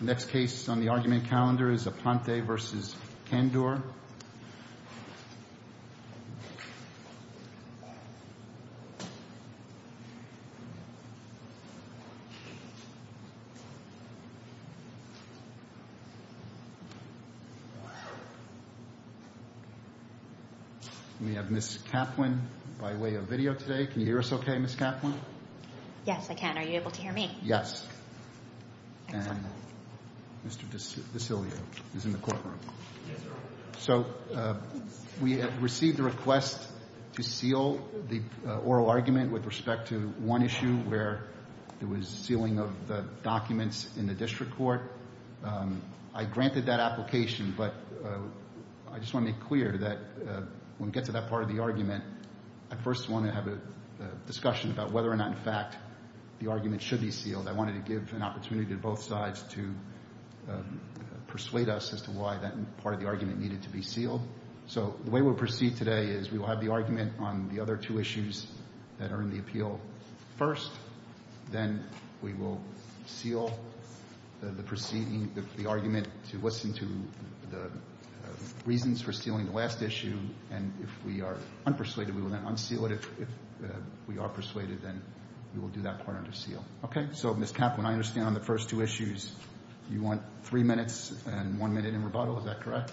Next case on the argument calendar is Aponte v. Kandur We have Ms. Kaplan by way of video today. Can you hear us okay, Ms. Kaplan? Yes, I can. Are you able to hear me? Yes. Excellent. And Mr. Desilio is in the courtroom. Yes, sir. So we have received a request to seal the oral argument with respect to one issue where there was sealing of the documents in the district court. I granted that application, but I just want to make clear that when we get to that part of the argument, I first want to have a discussion about whether or not, in fact, the argument should be sealed. I wanted to give an opportunity to both sides to persuade us as to why that part of the argument needed to be sealed. So the way we'll proceed today is we will have the argument on the other two issues that are in the appeal first. Then we will seal the proceeding, the argument to listen to the reasons for sealing the last issue. And if we are unpersuaded, we will then unseal it. If we are persuaded, then we will do that part under seal. Okay. So, Ms. Kaplan, I understand on the first two issues you want three minutes and one minute in rebuttal. Is that correct?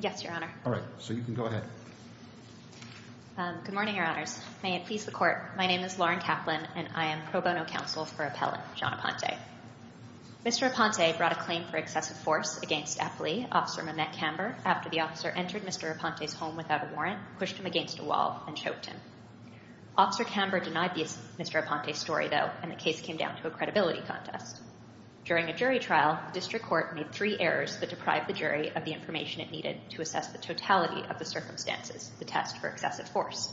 Yes, Your Honor. All right. So you can go ahead. Good morning, Your Honors. May it please the Court. My name is Lauren Kaplan, and I am pro bono counsel for appellant John Aponte. Mr. Aponte brought a claim for excessive force against F. Lee, Officer Mamet Camber, after the officer entered Mr. Aponte's home without a warrant, pushed him against a wall, and choked him. Officer Camber denied Mr. Aponte's story, though, and the case came down to a credibility contest. During a jury trial, the district court made three errors that deprived the jury of the information it needed to assess the totality of the circumstances, the test for excessive force.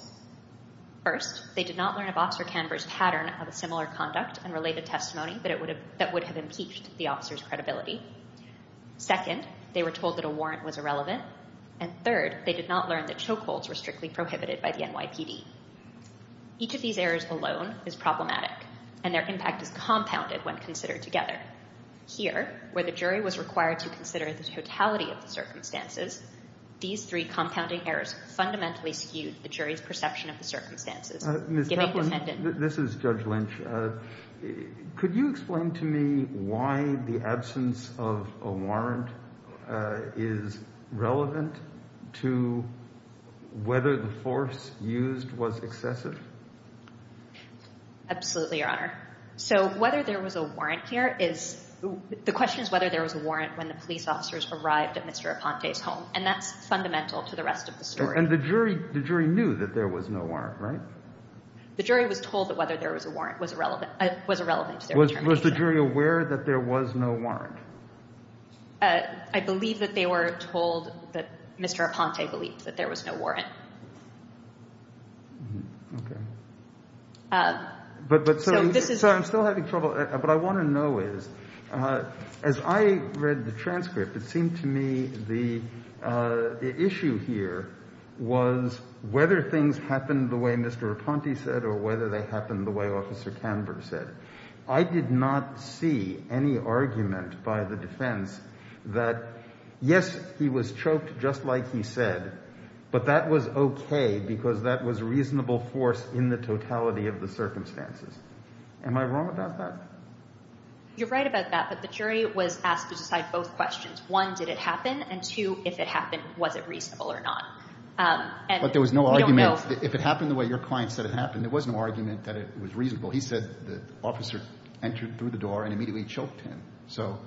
First, they did not learn of Officer Camber's pattern of a similar conduct and related testimony that would have impeached the officer's credibility. Second, they were told that a warrant was irrelevant. And third, they did not learn that chokeholds were strictly prohibited by the NYPD. Each of these errors alone is problematic, and their impact is compounded when considered together. Here, where the jury was required to consider the totality of the circumstances, these three compounding errors fundamentally skewed the jury's perception of the circumstances. Ms. Kaplan, this is Judge Lynch. Could you explain to me why the absence of a warrant is relevant to whether the force used was excessive? Absolutely, Your Honor. So whether there was a warrant here is – the question is whether there was a warrant when the police officers arrived at Mr. Aponte's home, and that's fundamental to the rest of the story. And the jury knew that there was no warrant, right? The jury was told that whether there was a warrant was irrelevant to their determination. Was the jury aware that there was no warrant? I believe that they were told that Mr. Aponte believed that there was no warrant. Okay. But this is – so I'm still having trouble – what I want to know is, as I read the transcript, it seemed to me the issue here was whether things happened the way Mr. Aponte said or whether they happened the way Officer Canberra said. I did not see any argument by the defense that, yes, he was choked just like he said, but that was okay because that was reasonable force in the totality of the circumstances. Am I wrong about that? You're right about that, but the jury was asked to decide both questions. One, did it happen? And two, if it happened, was it reasonable or not? But there was no argument – if it happened the way your client said it happened, there was no argument that it was reasonable. He said the officer entered through the door and immediately choked him. So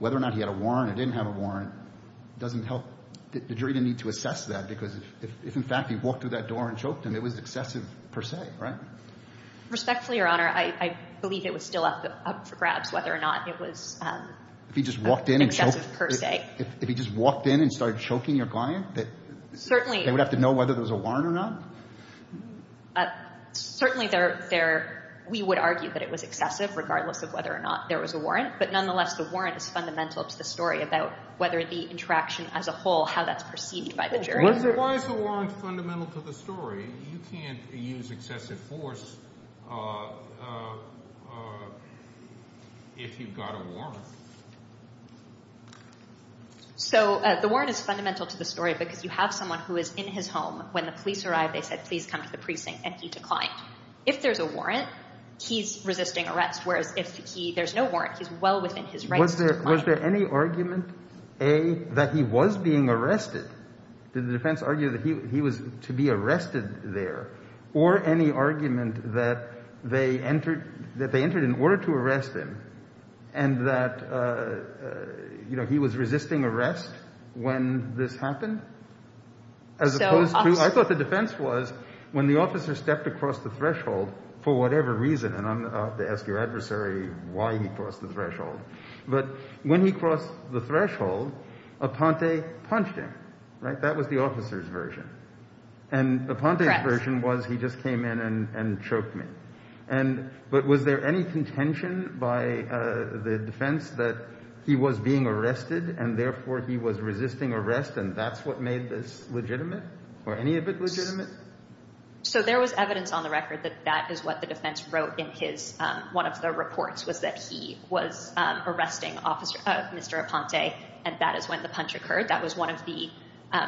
whether or not he had a warrant or didn't have a warrant doesn't help – the jury didn't need to assess that because if, in fact, he walked through that door and choked him, it was excessive per se, right? Respectfully, Your Honor, I believe it was still up for grabs whether or not it was excessive per se. If he just walked in and started choking your client, they would have to know whether there was a warrant or not? Certainly there – we would argue that it was excessive regardless of whether or not there was a warrant. But nonetheless, the warrant is fundamental to the story about whether the interaction as a whole, how that's perceived by the jury. Why is the warrant fundamental to the story? You can't use excessive force if you've got a warrant. So the warrant is fundamental to the story because you have someone who is in his home. When the police arrived, they said, please come to the precinct, and he declined. If there's a warrant, he's resisting arrest, whereas if he – there's no warrant, he's well within his rights to decline. Was there any argument, A, that he was being arrested? Did the defense argue that he was to be arrested there? Or any argument that they entered in order to arrest him and that he was resisting arrest when this happened? As opposed to – I thought the defense was when the officer stepped across the threshold for whatever reason, and I'm about to ask your adversary why he crossed the threshold. But when he crossed the threshold, Aponte punched him, right? That was the officer's version. And Aponte's version was he just came in and choked me. And – but was there any contention by the defense that he was being arrested and therefore he was resisting arrest and that's what made this legitimate or any of it legitimate? So there was evidence on the record that that is what the defense wrote in his – one of the reports was that he was arresting Mr. Aponte, and that is when the punch occurred. That was one of the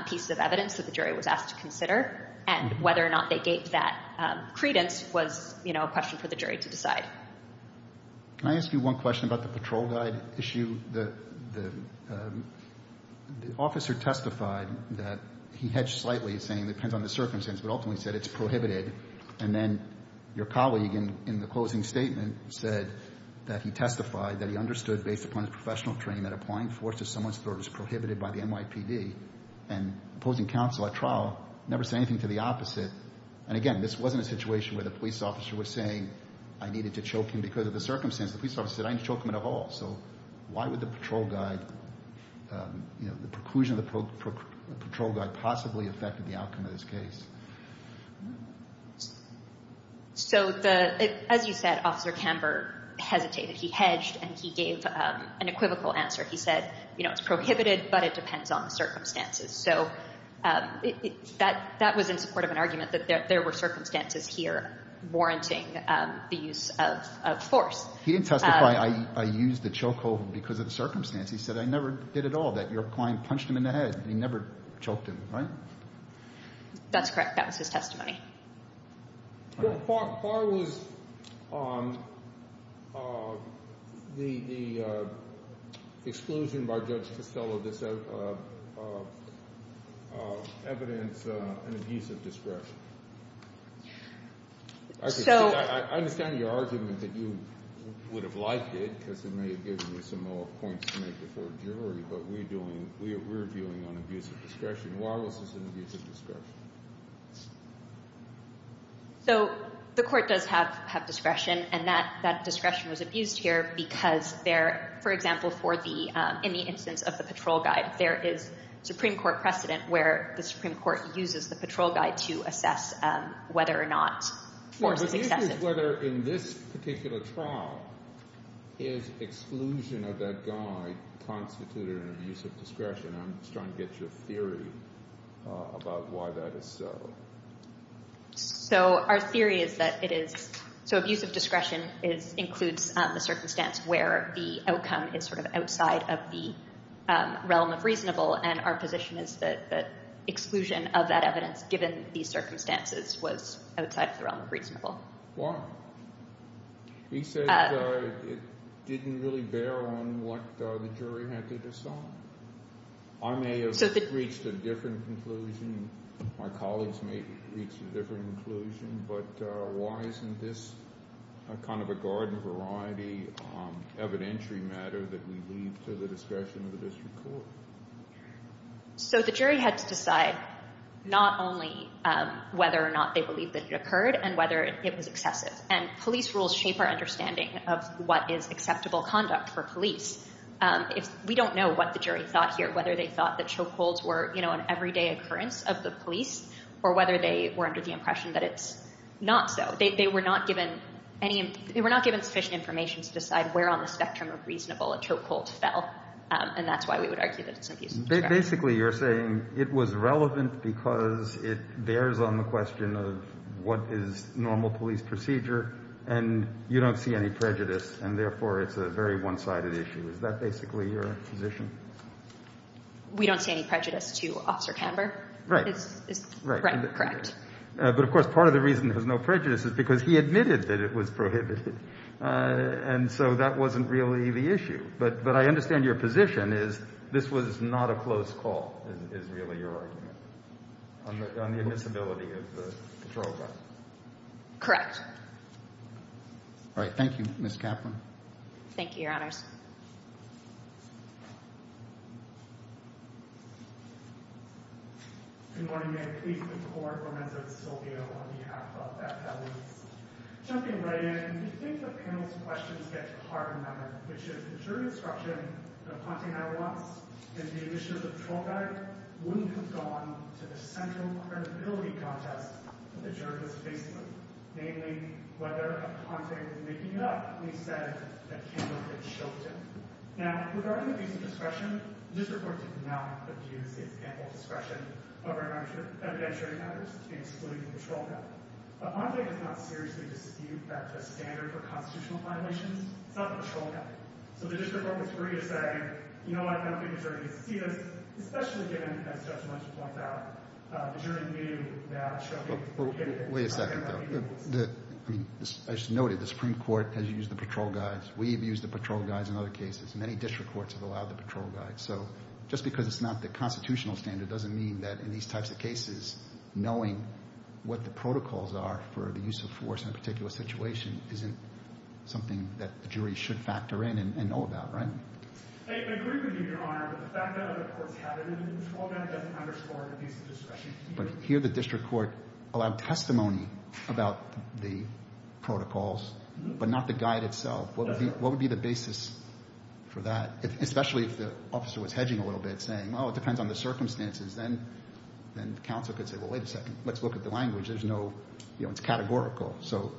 pieces of evidence that the jury was asked to consider. And whether or not they gave that credence was, you know, a question for the jury to decide. Can I ask you one question about the patrol guide issue? The officer testified that he hedged slightly, saying it depends on the circumstance, but ultimately said it's prohibited. And then your colleague in the closing statement said that he testified that he understood, based upon his professional training, that applying force to someone's throat is prohibited by the NYPD. And opposing counsel at trial never said anything to the opposite. And, again, this wasn't a situation where the police officer was saying I needed to choke him because of the circumstance. The police officer said I need to choke him at all. So why would the patrol guide, you know, the preclusion of the patrol guide possibly affect the outcome of this case? So, as you said, Officer Camber hesitated. He hedged and he gave an equivocal answer. He said, you know, it's prohibited, but it depends on the circumstances. So that was in support of an argument that there were circumstances here warranting the use of force. He didn't testify I used the choke hold because of the circumstance. He said I never did at all, that your client punched him in the head and he never choked him. Right? That's correct. That was his testimony. Why was the exclusion by Judge Costello of this evidence an abuse of discretion? I understand your argument that you would have liked it because it may have given you some more points to make before a jury. But we're viewing it on abuse of discretion. Wireless is an abuse of discretion. So the court does have discretion, and that discretion was abused here because, for example, in the instance of the patrol guide, there is Supreme Court precedent where the Supreme Court uses the patrol guide to assess whether or not force is excessive. The issue is whether in this particular trial is exclusion of that guide constituted an abuse of discretion. I'm just trying to get your theory about why that is so. So our theory is that it is. So abuse of discretion includes the circumstance where the outcome is sort of outside of the realm of reasonable. And our position is that exclusion of that evidence, given these circumstances, was outside of the realm of reasonable. Why? He said it didn't really bear on what the jury had to decide. I may have reached a different conclusion. My colleagues may have reached a different conclusion. But why isn't this kind of a garden-variety evidentiary matter that we leave to the discretion of the district court? So the jury had to decide not only whether or not they believed that it occurred and whether it was excessive. And police rules shape our understanding of what is acceptable conduct for police. We don't know what the jury thought here, whether they thought that chokeholds were an everyday occurrence of the police or whether they were under the impression that it's not so. They were not given sufficient information to decide where on the spectrum of reasonable a chokehold fell. And that's why we would argue that it's abuse of discretion. Basically, you're saying it was relevant because it bears on the question of what is normal police procedure and you don't see any prejudice and therefore it's a very one-sided issue. Is that basically your position? We don't see any prejudice to Officer Camber. Right. Right, correct. But, of course, part of the reason there's no prejudice is because he admitted that it was prohibited. And so that wasn't really the issue. But I understand your position is this was not a close call is really your argument on the admissibility of the patrol car. Correct. All right. Thank you, Ms. Kaplan. Thank you, Your Honors. Good morning. I plead for the Court for Mendoza-Silvio on behalf of Beth Helens. Jumping right in, we think the panel's questions get harder and harder, which is the jury instruction that Aponte and I lost and the issue of the patrol car wouldn't have gone to the central credibility contest that the jurors faced with. Namely, whether Aponte was making it up when he said that Camber had choked him. Now, regarding the use of discretion, the district court did not abuse its ample discretion over evidentiary matters to exclude the patrol car. Aponte does not seriously dispute that as standard for constitutional violations. It's not the patrol car. So the district court was free to say, you know what, I don't think the jury can see this, especially given, as Judge Munson points out, the jury knew that he had choked him. Wait a second, though. As noted, the Supreme Court has used the patrol guys. We've used the patrol guys in other cases. Many district courts have allowed the patrol guys. So just because it's not the constitutional standard doesn't mean that in these types of cases, knowing what the protocols are for the use of force in a particular situation isn't something that the jury should factor in and know about, right? I agree with you, Your Honor. The fact that other courts have it in the patrol guy doesn't underscore the use of discretion. But here the district court allowed testimony about the protocols, but not the guide itself. What would be the basis for that, especially if the officer was hedging a little bit, saying, oh, it depends on the circumstances, then the counsel could say, well, wait a second, let's look at the language. There's no, you know, it's categorical. So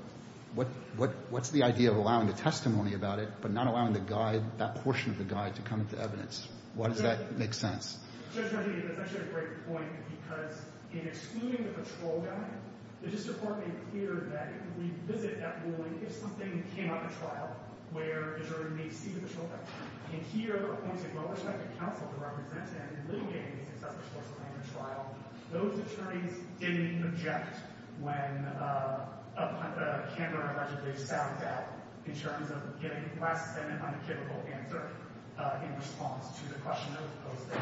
what's the idea of allowing the testimony about it, but not allowing the guide, that portion of the guide, to come into evidence? Why does that make sense? Judge Rodney, that's actually a great point, because in excluding the patrol guy, the district court made it clear that if we visit that ruling, if something came up in trial where a jury may see the patrol guy, and here there were points of well-respected counsel to represent him in litigating the excessive force of language trial, those attorneys didn't object when a camera allegedly sounds out, in terms of getting less than an unequivocal answer in response to the question that was posted.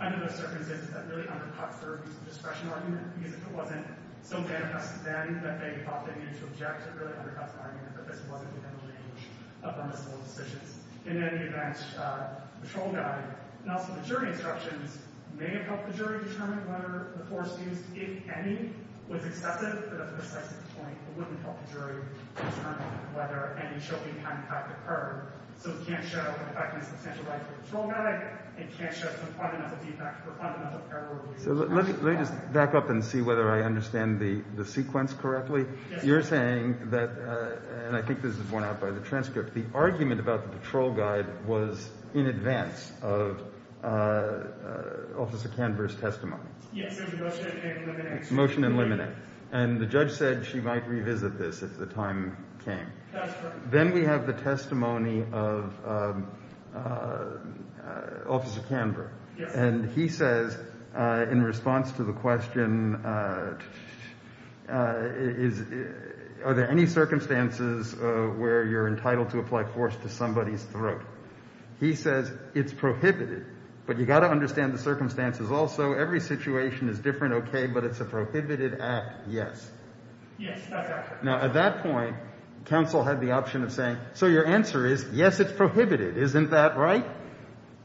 Under those circumstances, that really undercuts their use of discretion argument, because if it wasn't so manifest then that they thought they needed to object, it really undercuts the argument that this wasn't within the range of permissible decisions. In any event, the patrol guy, and also the jury instructions, may have helped the jury determine whether the force used, if any, was excessive, but that's a precise point. It wouldn't help the jury determine whether any choking had, in fact, occurred. So it can't show an effect on substantial rights of the patrol guy. It can't show some fundamental defect or fundamental error. So let me just back up and see whether I understand the sequence correctly. You're saying that, and I think this is borne out by the transcript, the argument about the patrol guy was in advance of Officer Canberra's testimony? Yes, it was a motion and a liminex. Motion and liminex. And the judge said she might revisit this if the time came. That's correct. Then we have the testimony of Officer Canberra. Yes. And he says, in response to the question, are there any circumstances where you're entitled to apply force to somebody's throat? He says it's prohibited, but you've got to understand the circumstances also. Every situation is different, okay, but it's a prohibited act, yes. Yes. Now, at that point, counsel had the option of saying, so your answer is, yes, it's prohibited. Isn't that right?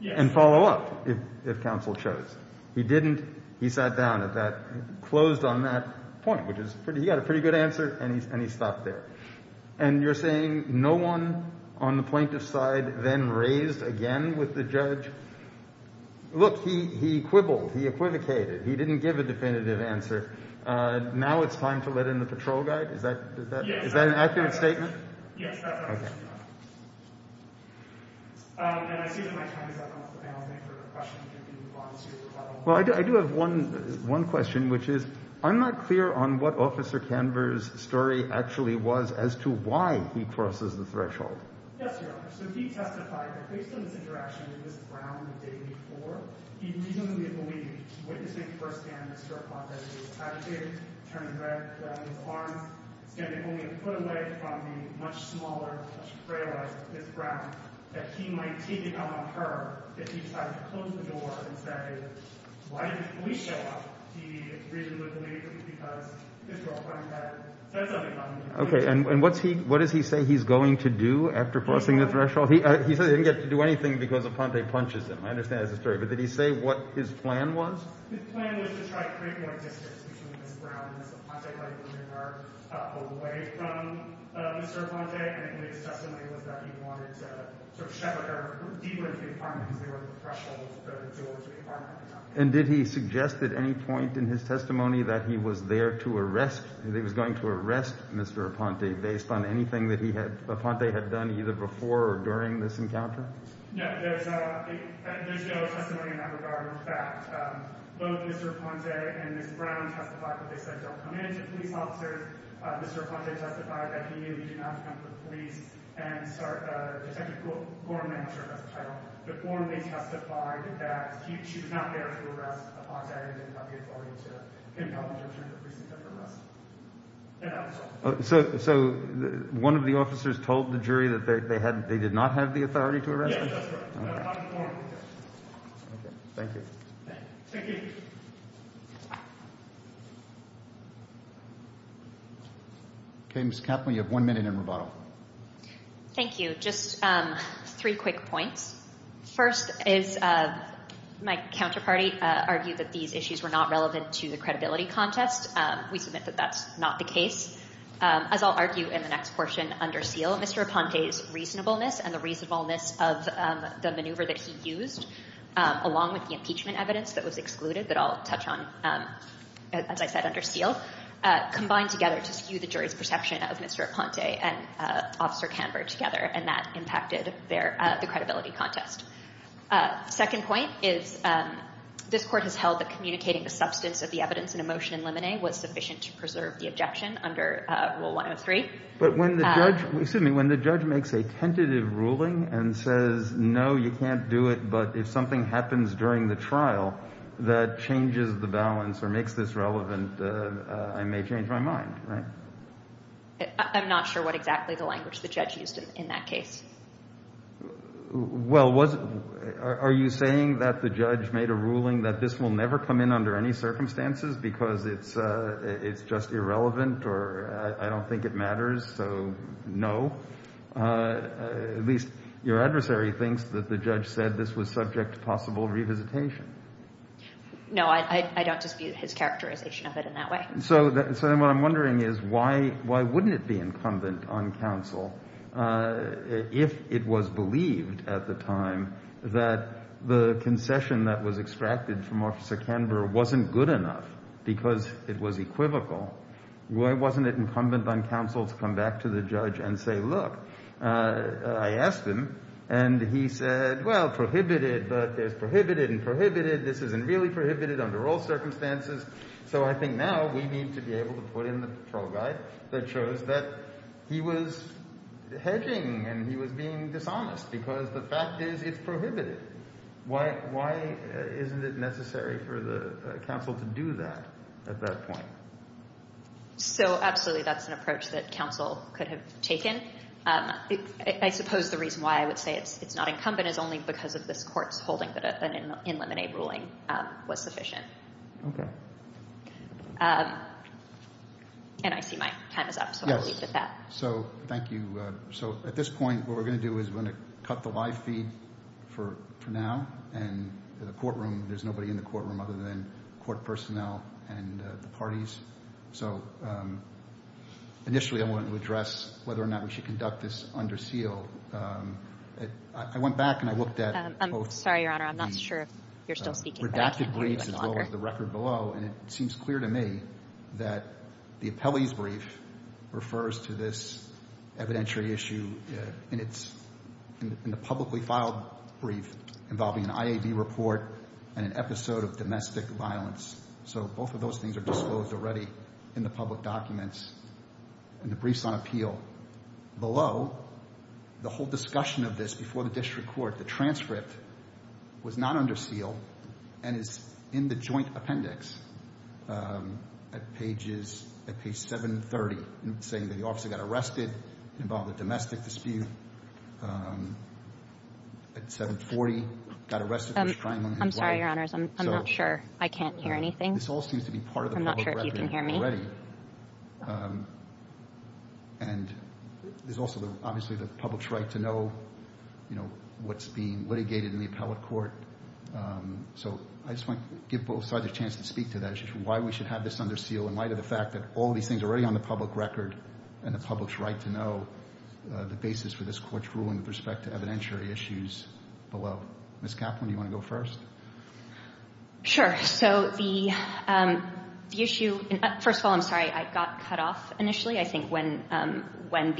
Yes. He didn't follow up, if counsel chose. He didn't. He sat down at that, closed on that point, which is, he got a pretty good answer, and he stopped there. And you're saying no one on the plaintiff's side then raised again with the judge, look, he quibbled, he equivocated, he didn't give a definitive answer, now it's time to let in the patrol guy? Is that an accurate statement? Yes, that's accurate. Okay. And I see that my time is up. I don't have time for questions. Well, I do have one question, which is, I'm not clear on what Officer Canberra's story actually was as to why he crosses the threshold. Yes, Your Honor. Okay. And what does he say he's going to do after crossing the threshold? He says he didn't get to do anything because Aponte punches him. I understand that's the story. But did he say what his plan was? His plan was to try to create more distance between Ms. Brown and Ms. Aponte by putting her away from Mr. Aponte, and in his testimony was that he wanted to sort of shove her deeper into the apartment because they were at the threshold, the door to the apartment. And did he suggest at any point in his testimony that he was there to arrest, that he was going to arrest Mr. Aponte based on anything that he had, Aponte had done either before or during this encounter? No, there's no testimony in that regard. In fact, both Mr. Aponte and Ms. Brown testified that they said don't come in to police officers. Mr. Aponte testified that he knew he didn't have to come to the police. And Detective Gorman, I'm not sure if that's the title, but Gorman testified that she was not there to arrest Aponte and didn't have the authority to impel him to return to the precinct after arrest. So one of the officers told the jury that they did not have the authority to arrest him? Yes, that's correct. Okay, thank you. Thank you. Okay, Ms. Kaplan, you have one minute in rebuttal. Thank you. Just three quick points. First is my counterparty argued that these issues were not relevant to the credibility contest. We submit that that's not the case. As I'll argue in the next portion under seal, Mr. Aponte's reasonableness and the reasonableness of the maneuver that he used, along with the impeachment evidence that was excluded that I'll touch on, as I said, under seal, combined together to skew the jury's perception of Mr. Aponte and Officer Canberra together, and that impacted the credibility contest. Second point is this Court has held that communicating the substance of the evidence in a motion in limine was sufficient to preserve the objection under Rule 103. But when the judge makes a tentative ruling and says, no, you can't do it, but if something happens during the trial that changes the balance or makes this relevant, I may change my mind, right? I'm not sure what exactly the language the judge used in that case. Well, are you saying that the judge made a ruling that this will never come in under any circumstances because it's just irrelevant or I don't think it matters, so no? At least your adversary thinks that the judge said this was subject to possible revisitation. No, I don't dispute his characterization of it in that way. So then what I'm wondering is why wouldn't it be incumbent on counsel if it was believed at the time that the concession that was extracted from Officer Canberra wasn't good enough because it was equivocal? Why wasn't it incumbent on counsel to come back to the judge and say, look, I asked him, and he said, well, prohibited, but there's prohibited and prohibited. This isn't really prohibited under all circumstances. So I think now we need to be able to put in the patrol guide that shows that he was hedging and he was being dishonest because the fact is it's prohibited. Why isn't it necessary for the counsel to do that at that point? So absolutely that's an approach that counsel could have taken. I suppose the reason why I would say it's not incumbent is only because of this court's holding that an in limine ruling was sufficient. Okay. And I see my time is up, so I'll leave it at that. So thank you. So at this point what we're going to do is we're going to cut the live feed for now, and in the courtroom there's nobody in the courtroom other than court personnel and the parties. So initially I wanted to address whether or not we should conduct this under seal. I went back and I looked at both. I'm sorry, Your Honor. I'm not sure if you're still speaking. There's redacted briefs as well as the record below, and it seems clear to me that the appellee's brief refers to this evidentiary issue in the publicly filed brief involving an IAB report and an episode of domestic violence. So both of those things are disclosed already in the public documents in the briefs on appeal. Below, the whole discussion of this before the district court, the transcript was not under seal and is in the joint appendix at pages, at page 730, saying that the officer got arrested, involved in a domestic dispute at 740, got arrested for his crime. I'm sorry, Your Honors. I'm not sure. I can't hear anything. This all seems to be part of the public record already. I'm not sure if you can hear me. And there's also obviously the public's right to know, you know, what's being litigated in the appellate court. So I just want to give both sides a chance to speak to that issue, why we should have this under seal in light of the fact that all these things are already on the public record and the public's right to know the basis for this court's ruling with respect to evidentiary issues below. Ms. Kaplan, do you want to go first? Sure. So the issue, first of all, I'm sorry, I got cut off initially. I think when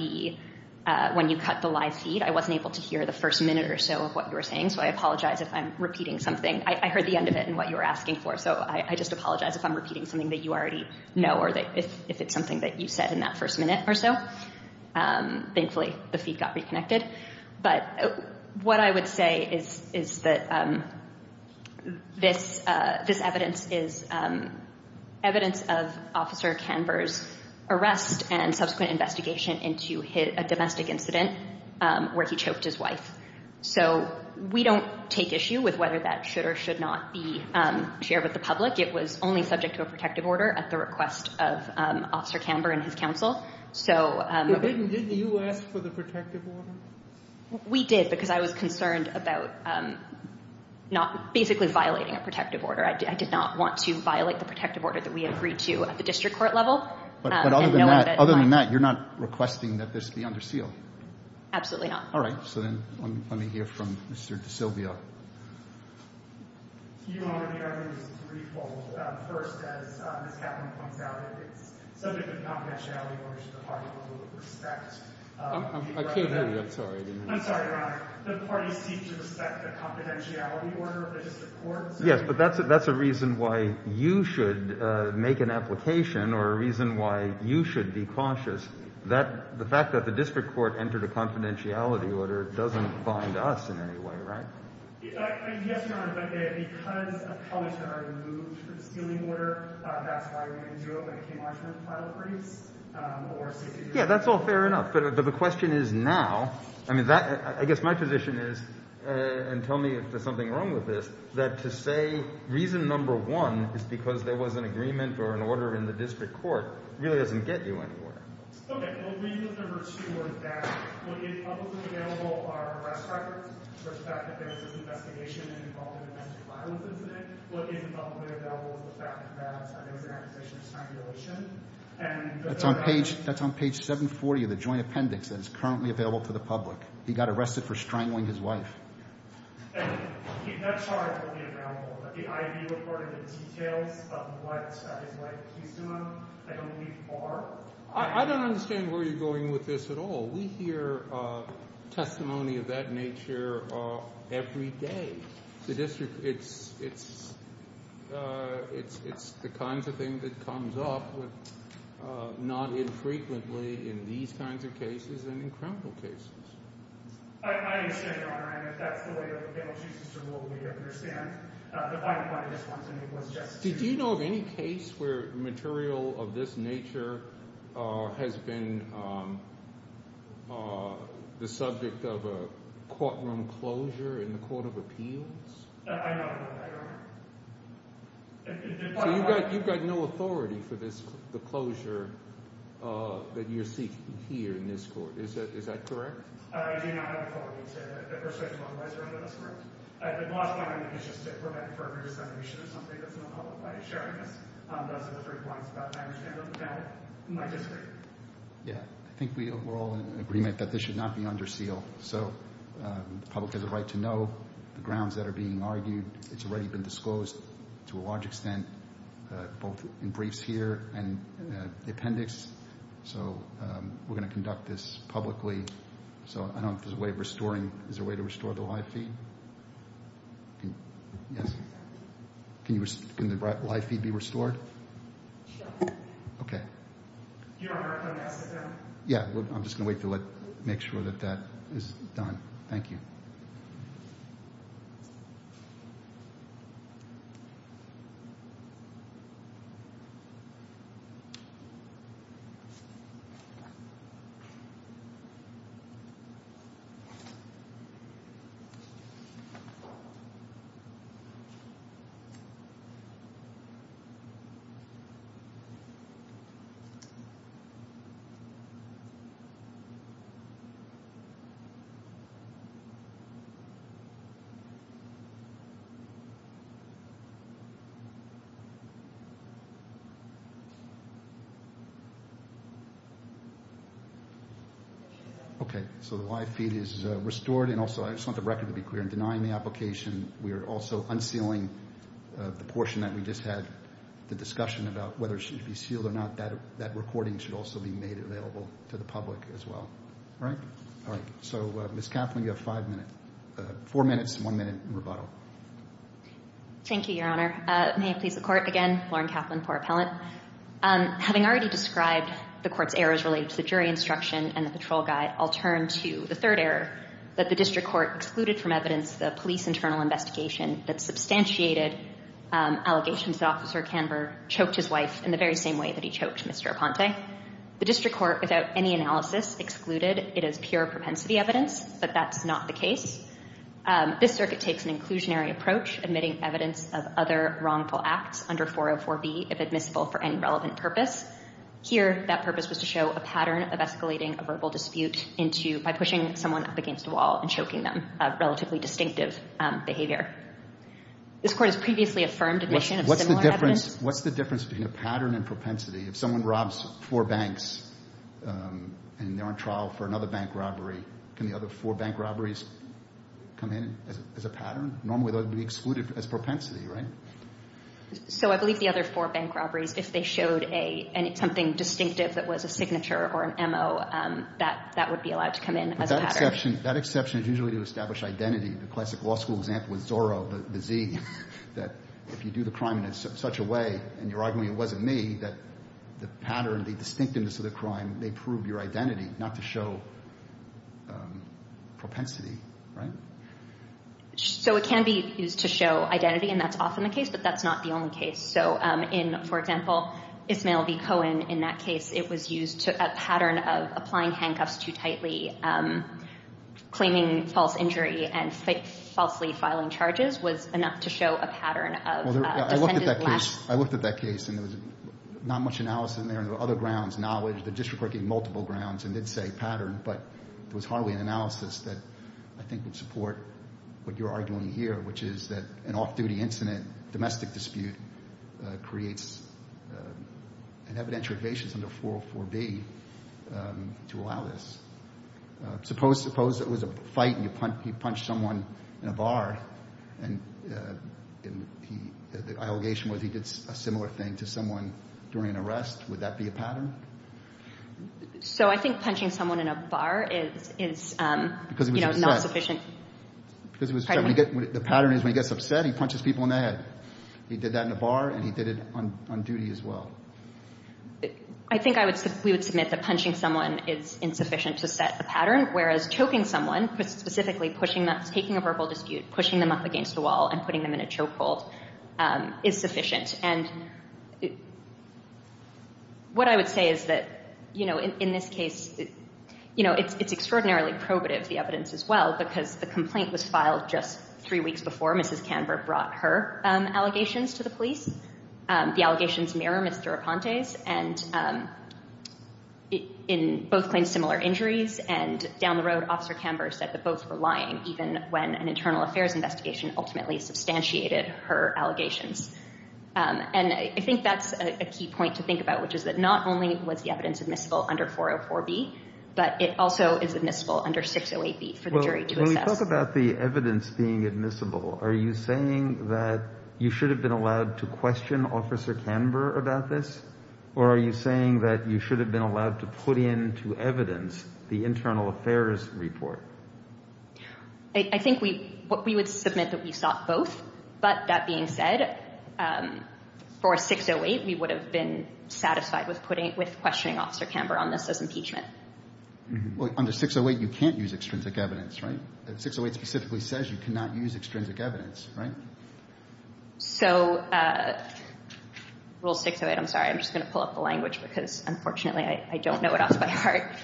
you cut the live feed, I wasn't able to hear the first minute or so of what you were saying, so I apologize if I'm repeating something. I heard the end of it and what you were asking for, so I just apologize if I'm repeating something that you already know or if it's something that you said in that first minute or so. Thankfully, the feed got reconnected. But what I would say is that this evidence is evidence of Officer Canberra's arrest and subsequent investigation into a domestic incident where he choked his wife. So we don't take issue with whether that should or should not be shared with the public. It was only subject to a protective order at the request of Officer Canberra and his counsel. Didn't you ask for the protective order? We did because I was concerned about basically violating a protective order. I did not want to violate the protective order that we agreed to at the district court level. But other than that, you're not requesting that this be under seal? Absolutely not. All right. So then let me hear from Mr. DeSilvio. Your Honor, the argument is threefold. First, as Ms. Kaplan points out, it's subject of confidentiality orders to the parties that would respect the right to that. I can't hear you. I'm sorry. I'm sorry, Your Honor. The parties seek to respect the confidentiality order of the district court. Yes, but that's a reason why you should make an application or a reason why you should be cautious. The fact that the district court entered a confidentiality order doesn't bind us in any way, right? Yes, Your Honor, but because of colleagues that are removed from the sealing order, that's why we didn't do it when it came out in the final briefs. Yeah, that's all fair enough. But the question is now. I mean, I guess my position is, and tell me if there's something wrong with this, that to say reason number one is because there was an agreement or an order in the district court really doesn't get you anywhere. Okay, we'll leave the number two word back. What is publicly available are arrest records for the fact that there was an investigation involving a domestic violence incident. What isn't publicly available is the fact that there was an accusation of strangulation. That's on page 740 of the joint appendix that is currently available to the public. He got arrested for strangling his wife. That charge will be available. But the I.V. report and the details of what his wife accused him of, I don't believe are. I don't understand where you're going with this at all. We hear testimony of that nature every day. The district, it's the kinds of things that comes up not infrequently in these kinds of cases and in criminal cases. I understand, Your Honor, and if that's the way that the panel chooses to rule, we understand. The final point I just want to make was just to— Did you know of any case where material of this nature has been the subject of a courtroom closure in the Court of Appeals? I don't. I don't. So you've got no authority for the closure that you're seeking here in this court. Is that correct? I do not have authority to persuade you otherwise, Your Honor. That's correct. The last point I make is just to prevent further dissemination of something that's in the public by sharing this. Those are the three points that I understand that the panel might disagree. Yeah, I think we're all in agreement that this should not be under seal. So the public has a right to know the grounds that are being argued. It's already been disclosed to a large extent, both in briefs here and the appendix. So we're going to conduct this publicly. So I don't know if there's a way of restoring—is there a way to restore the live feed? Yes. Can the live feed be restored? Sure. Okay. Your Honor, can I sit down? Yeah, I'm just going to wait to make sure that that is done. Thank you. Thank you. Okay, so the live feed is restored. And also, I just want the record to be clear in denying the application. We are also unsealing the portion that we just had, the discussion about whether it should be sealed or not. That recording should also be made available to the public as well. All right? All right. So, Ms. Kaplan, you have five minutes—four minutes and one minute in rebuttal. Thank you, Your Honor. May it please the Court. Again, Lauren Kaplan, poor appellant. Having already described the Court's errors related to the jury instruction and the patrol guide, I'll turn to the third error, that the District Court excluded from evidence the police internal investigation that substantiated allegations that Officer Canberra choked his wife in the very same way that he choked Mr. Aponte. The District Court, without any analysis, excluded it as pure propensity evidence, but that's not the case. This circuit takes an inclusionary approach, admitting evidence of other wrongful acts under 404B if admissible for any relevant purpose. Here, that purpose was to show a pattern of escalating a verbal dispute by pushing someone up against a wall and choking them, a relatively distinctive behavior. This Court has previously affirmed admission of similar evidence. What's the difference between a pattern and propensity? If someone robs four banks and they're on trial for another bank robbery, can the other four bank robberies come in as a pattern? Normally they would be excluded as propensity, right? So I believe the other four bank robberies, if they showed something distinctive that was a signature or an M.O., that would be allowed to come in as a pattern. But that exception is usually to establish identity. The classic law school example is Zorro, the Z. If you do the crime in such a way, and you're arguing it wasn't me, that the pattern, the distinctiveness of the crime may prove your identity, not to show propensity, right? So it can be used to show identity, and that's often the case, but that's not the only case. So in, for example, Ismael v. Cohen, in that case, it was used as a pattern of applying handcuffs too tightly, claiming false injury and falsely filing charges was enough to show a pattern of defendant lacks- Well, I looked at that case, and there was not much analysis in there, and there were other grounds, knowledge, the district court gave multiple grounds and did say pattern, but there was hardly an analysis that I think would support what you're arguing here, which is that an off-duty incident, domestic dispute, creates an evidentiary basis under 404B to allow this. Suppose it was a fight, and you punched someone in a bar, and the allegation was he did a similar thing to someone during an arrest. Would that be a pattern? So I think punching someone in a bar is not sufficient. The pattern is when he gets upset, he punches people in the head. He did that in a bar, and he did it on duty as well. I think we would submit that punching someone is insufficient to set the pattern, whereas choking someone, specifically taking a verbal dispute, pushing them up against the wall and putting them in a chokehold, is sufficient. And what I would say is that in this case, it's extraordinarily probative, the evidence as well, because the complaint was filed just three weeks before Mrs. Canberra brought her allegations to the police. The allegations mirror Ms. Durapante's, and both claimed similar injuries. And down the road, Officer Canberra said that both were lying, even when an internal affairs investigation ultimately substantiated her allegations. And I think that's a key point to think about, which is that not only was the evidence admissible under 404B, but it also is admissible under 608B for the jury to assess. When we talk about the evidence being admissible, are you saying that you should have been allowed to question Officer Canberra about this, or are you saying that you should have been allowed to put into evidence the internal affairs report? I think we would submit that we sought both, but that being said, for 608, we would have been satisfied with questioning Officer Canberra on this as impeachment. Well, under 608, you can't use extrinsic evidence, right? 608 specifically says you cannot use extrinsic evidence, right? So Rule 608, I'm sorry. I'm just going to pull up the language because, unfortunately, I don't know it off by heart.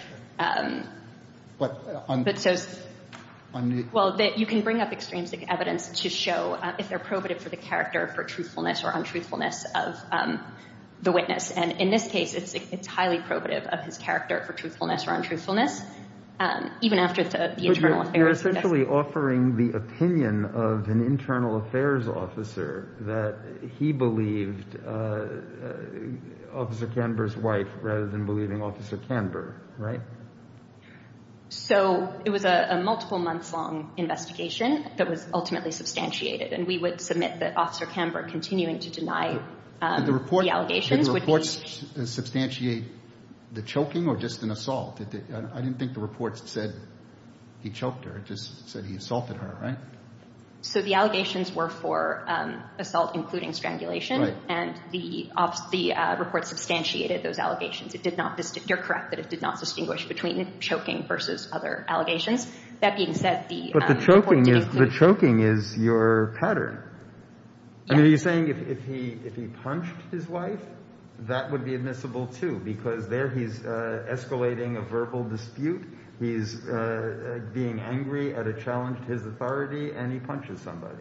Well, you can bring up extrinsic evidence to show if they're probative for the character, for truthfulness or untruthfulness of the witness. And in this case, it's highly probative of his character for truthfulness or untruthfulness, even after the internal affairs investigation. You're essentially offering the opinion of an internal affairs officer that he believed Officer Canberra's wife rather than believing Officer Canberra, right? So it was a multiple-months-long investigation that was ultimately substantiated, and we would submit that Officer Canberra continuing to deny the allegations would be— Did the report substantiate the choking or just an assault? I didn't think the report said he choked her. It just said he assaulted her, right? So the allegations were for assault, including strangulation. Right. And the report substantiated those allegations. You're correct that it did not distinguish between choking versus other allegations. That being said, the report did include— But the choking is your pattern. I mean, are you saying if he punched his wife, that would be admissible too? Because there he's escalating a verbal dispute. He's being angry at a challenge to his authority, and he punches somebody.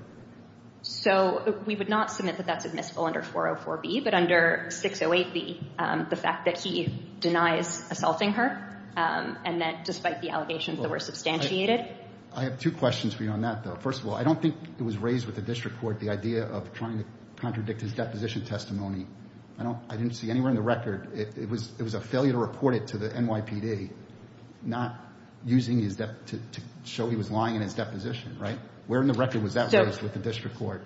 So we would not submit that that's admissible under 404B. But under 608B, the fact that he denies assaulting her and that despite the allegations that were substantiated— I have two questions for you on that, though. First of all, I don't think it was raised with the district court the idea of trying to contradict his deposition testimony. I didn't see anywhere in the record. It was a failure to report it to the NYPD, not using his—to show he was lying in his deposition, right? Where in the record was that raised with the district court?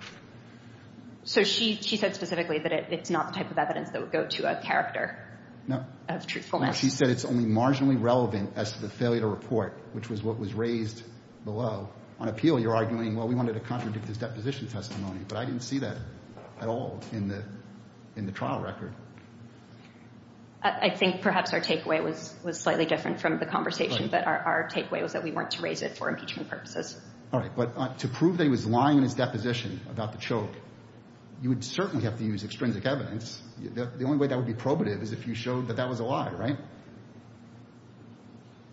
So she said specifically that it's not the type of evidence that would go to a character of truthfulness. She said it's only marginally relevant as to the failure to report, which was what was raised below. On appeal, you're arguing, well, we wanted to contradict his deposition testimony, but I didn't see that at all in the trial record. I think perhaps our takeaway was slightly different from the conversation, but our takeaway was that we weren't to raise it for impeachment purposes. All right, but to prove that he was lying in his deposition about the choke, you would certainly have to use extrinsic evidence. The only way that would be probative is if you showed that that was a lie, right?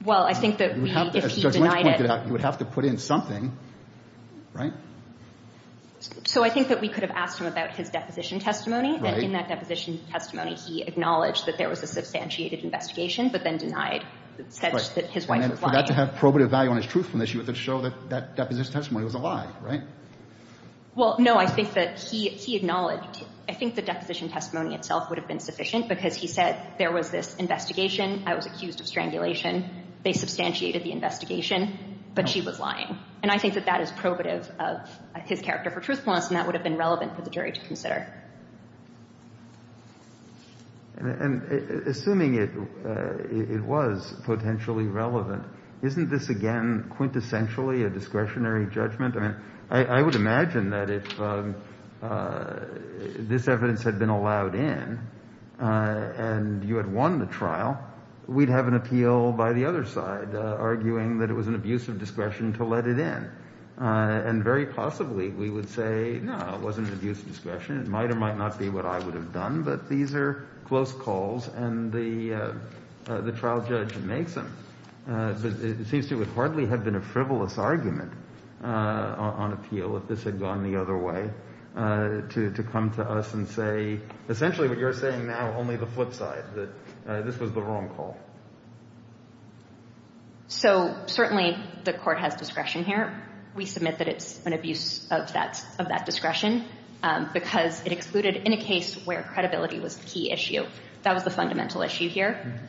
Well, I think that we— As Judge Lynch pointed out, you would have to put in something, right? So I think that we could have asked him about his deposition testimony, and in that deposition testimony, he acknowledged that there was a substantiated investigation, but then denied such that his wife was lying. And for that to have probative value on his truthfulness, you would have to show that that deposition testimony was a lie, right? Well, no, I think that he acknowledged— I think the deposition testimony itself would have been sufficient because he said there was this investigation, I was accused of strangulation, they substantiated the investigation, but she was lying. And I think that that is probative of his character for truthfulness, and that would have been relevant for the jury to consider. And assuming it was potentially relevant, isn't this again quintessentially a discretionary judgment? I mean, I would imagine that if this evidence had been allowed in and you had won the trial, we'd have an appeal by the other side arguing that it was an abuse of discretion to let it in. And very possibly we would say, no, it wasn't an abuse of discretion, it might or might not be what I would have done, but these are close calls, and the trial judge makes them. But it seems to hardly have been a frivolous argument on appeal if this had gone the other way, to come to us and say, essentially what you're saying now, only the flip side, that this was the wrong call. So certainly the Court has discretion here. We submit that it's an abuse of that discretion because it excluded in a case where credibility was the key issue. That was the fundamental issue here.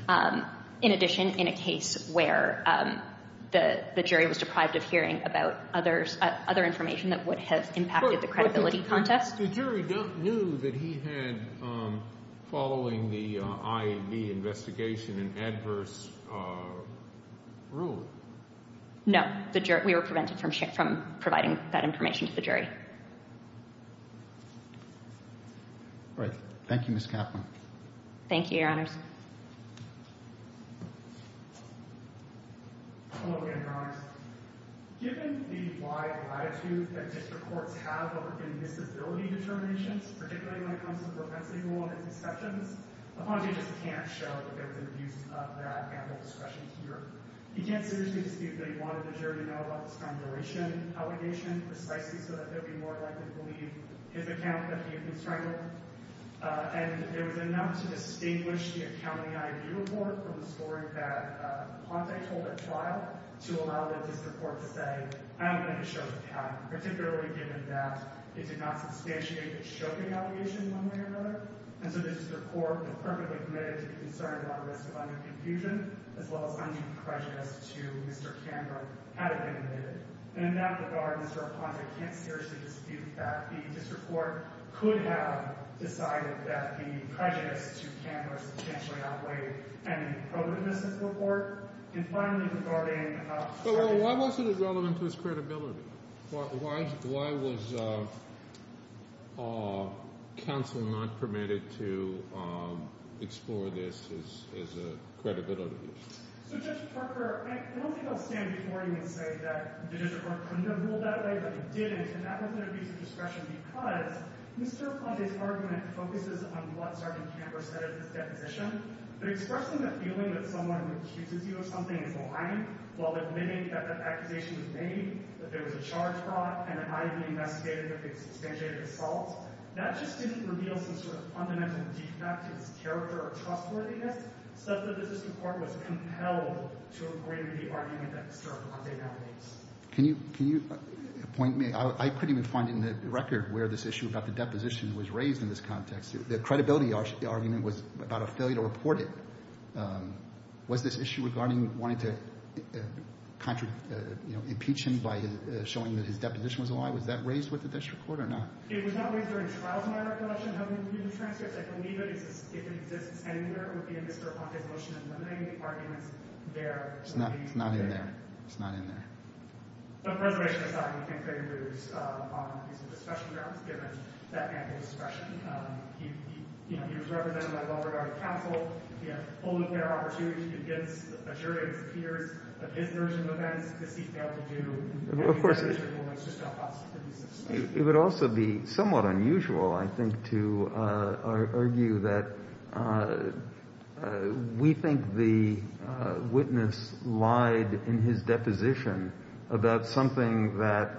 In addition, in a case where the jury was deprived of hearing about other information that would have impacted the credibility contest. The jury knew that he had, following the IAV investigation, an adverse rule. No. We were prevented from providing that information to the jury. All right. Thank you, Ms. Kaplan. I think it would be more likely to believe his account that he had been strangled. And there was enough to distinguish the account in the IAV report from the story that Ponte told at trial to allow the district court to say, I don't think it shows the path, particularly given that it did not substantiate the choking allegation in one way or another. And so this district court would have perfectly committed to be concerned about the risk of underconfusion, as well as undue prejudice to Mr. Canber had it been omitted. And that the guard, Mr. Ponte, can't seriously dispute the fact that the district court could have decided that the prejudice to Canber substantially outweighed any progress in this report. And finally, regarding... Well, why wasn't it relevant to his credibility? Why was counsel not permitted to explore this as a credibility issue? So, Judge Parker, I don't think I'll stand before you and say that the district court couldn't have ruled that way, but they didn't. And that was an abuse of discretion because Mr. Ponte's argument focuses on what Sergeant Canber said in his deposition. But expressing the feeling that someone accuses you of something is lying, while admitting that the accusation was made, that there was a charge brought, and an IAV investigated that they substantiated assault, that just didn't reveal some sort of fundamental defect in his character or trustworthiness, such that the district court was compelled to agree to the argument that Mr. Ponte now makes. Can you point me... I couldn't even find in the record where this issue about the deposition was raised in this context. The credibility argument was about a failure to report it. Was this issue regarding wanting to impeach him by showing that his deposition was a lie? Was that raised with the district court or not? It was not raised during the trials in my recollection. I believe it exists anywhere within Mr. Ponte's motion It's not in there. It's not in there. It would also be somewhat unusual, I think, to argue that we think the witness lied in his deposition about something that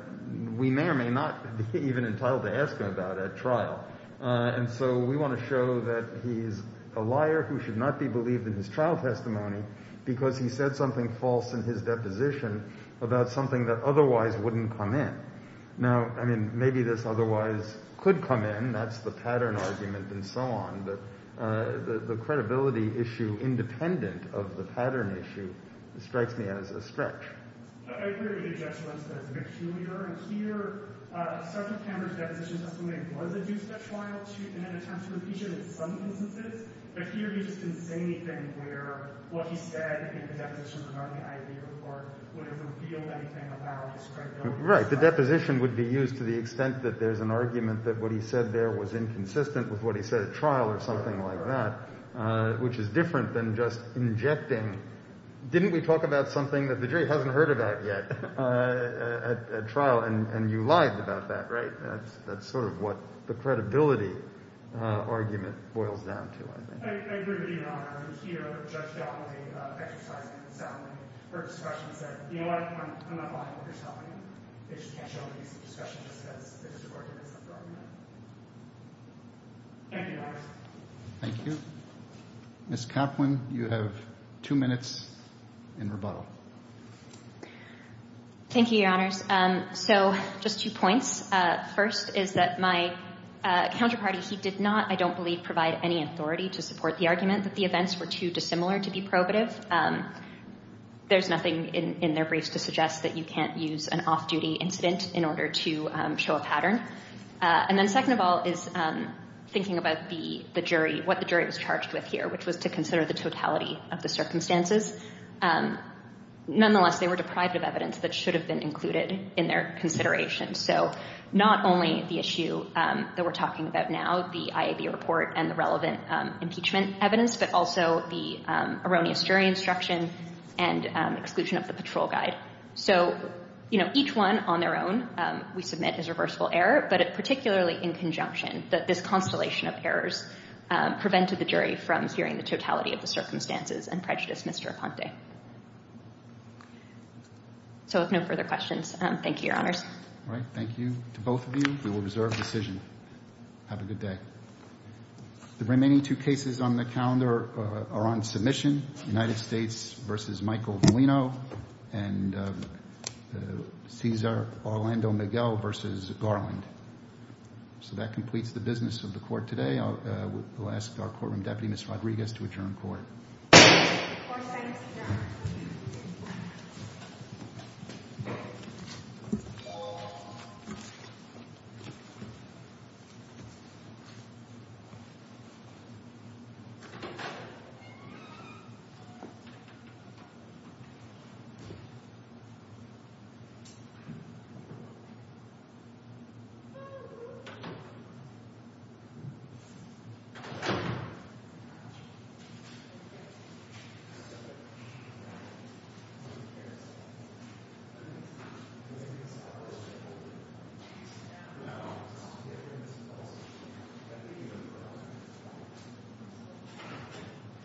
we may or may not be even entitled to ask him about at trial. And so we want to show that he's a liar who should not be believed in his trial testimony because he said something false in his deposition about something that otherwise wouldn't come in. Now, I mean, maybe this otherwise could come in. That's the pattern argument and so on. But the credibility issue independent of the pattern issue strikes me as a stretch. I agree with the objection that it's a bit trulier. And here, Sgt. Camber's deposition testimony was a two-step trial in an attempt to impeach him in some instances. But here he just didn't say anything where what he said in the deposition regarding the IV report would have revealed anything about his credibility. Right. The deposition would be used to the extent that there's an argument that what he said there was inconsistent with what he said at trial or something like that, which is different than just injecting. Didn't we talk about something that the jury hasn't heard about yet at trial? And you lied about that, right? That's sort of what the credibility argument boils down to, I think. I agree with you, Your Honor. I was here when Judge Goplin was exercising his testimony. Her discussion said, you know what? I'm not buying what you're telling me. They just can't show me this discussion just because the deposition argument is wrong. Thank you, Your Honor. Thank you. Ms. Goplin, you have two minutes in rebuttal. Thank you, Your Honors. So just two points. First is that my counterparty, he did not, I don't believe, provide any authority to support the argument that the events were too dissimilar to be probative. There's nothing in their briefs to suggest that you can't use an off-duty incident in order to show a pattern. And then second of all is thinking about the jury, what the jury was charged with here, which was to consider the totality of the circumstances. Nonetheless, they were deprived of evidence that should have been included in their consideration. So not only the issue that we're talking about now, the IAB report and the relevant impeachment evidence, but also the erroneous jury instruction and exclusion of the patrol guide. So, you know, each one on their own, we submit as reversible error, but particularly in conjunction, that this constellation of errors prevented the jury from hearing the totality of the circumstances and prejudice Mr. Aponte. So with no further questions, thank you, Your Honors. All right. Thank you to both of you. We will reserve decision. Have a good day. The remaining two cases on the calendar are on submission, United States versus Michael Molino and Cesar Orlando Miguel versus Garland. So that completes the business of the court today. I will ask our courtroom deputy, Ms. Rodriguez, to adjourn court. Thank you.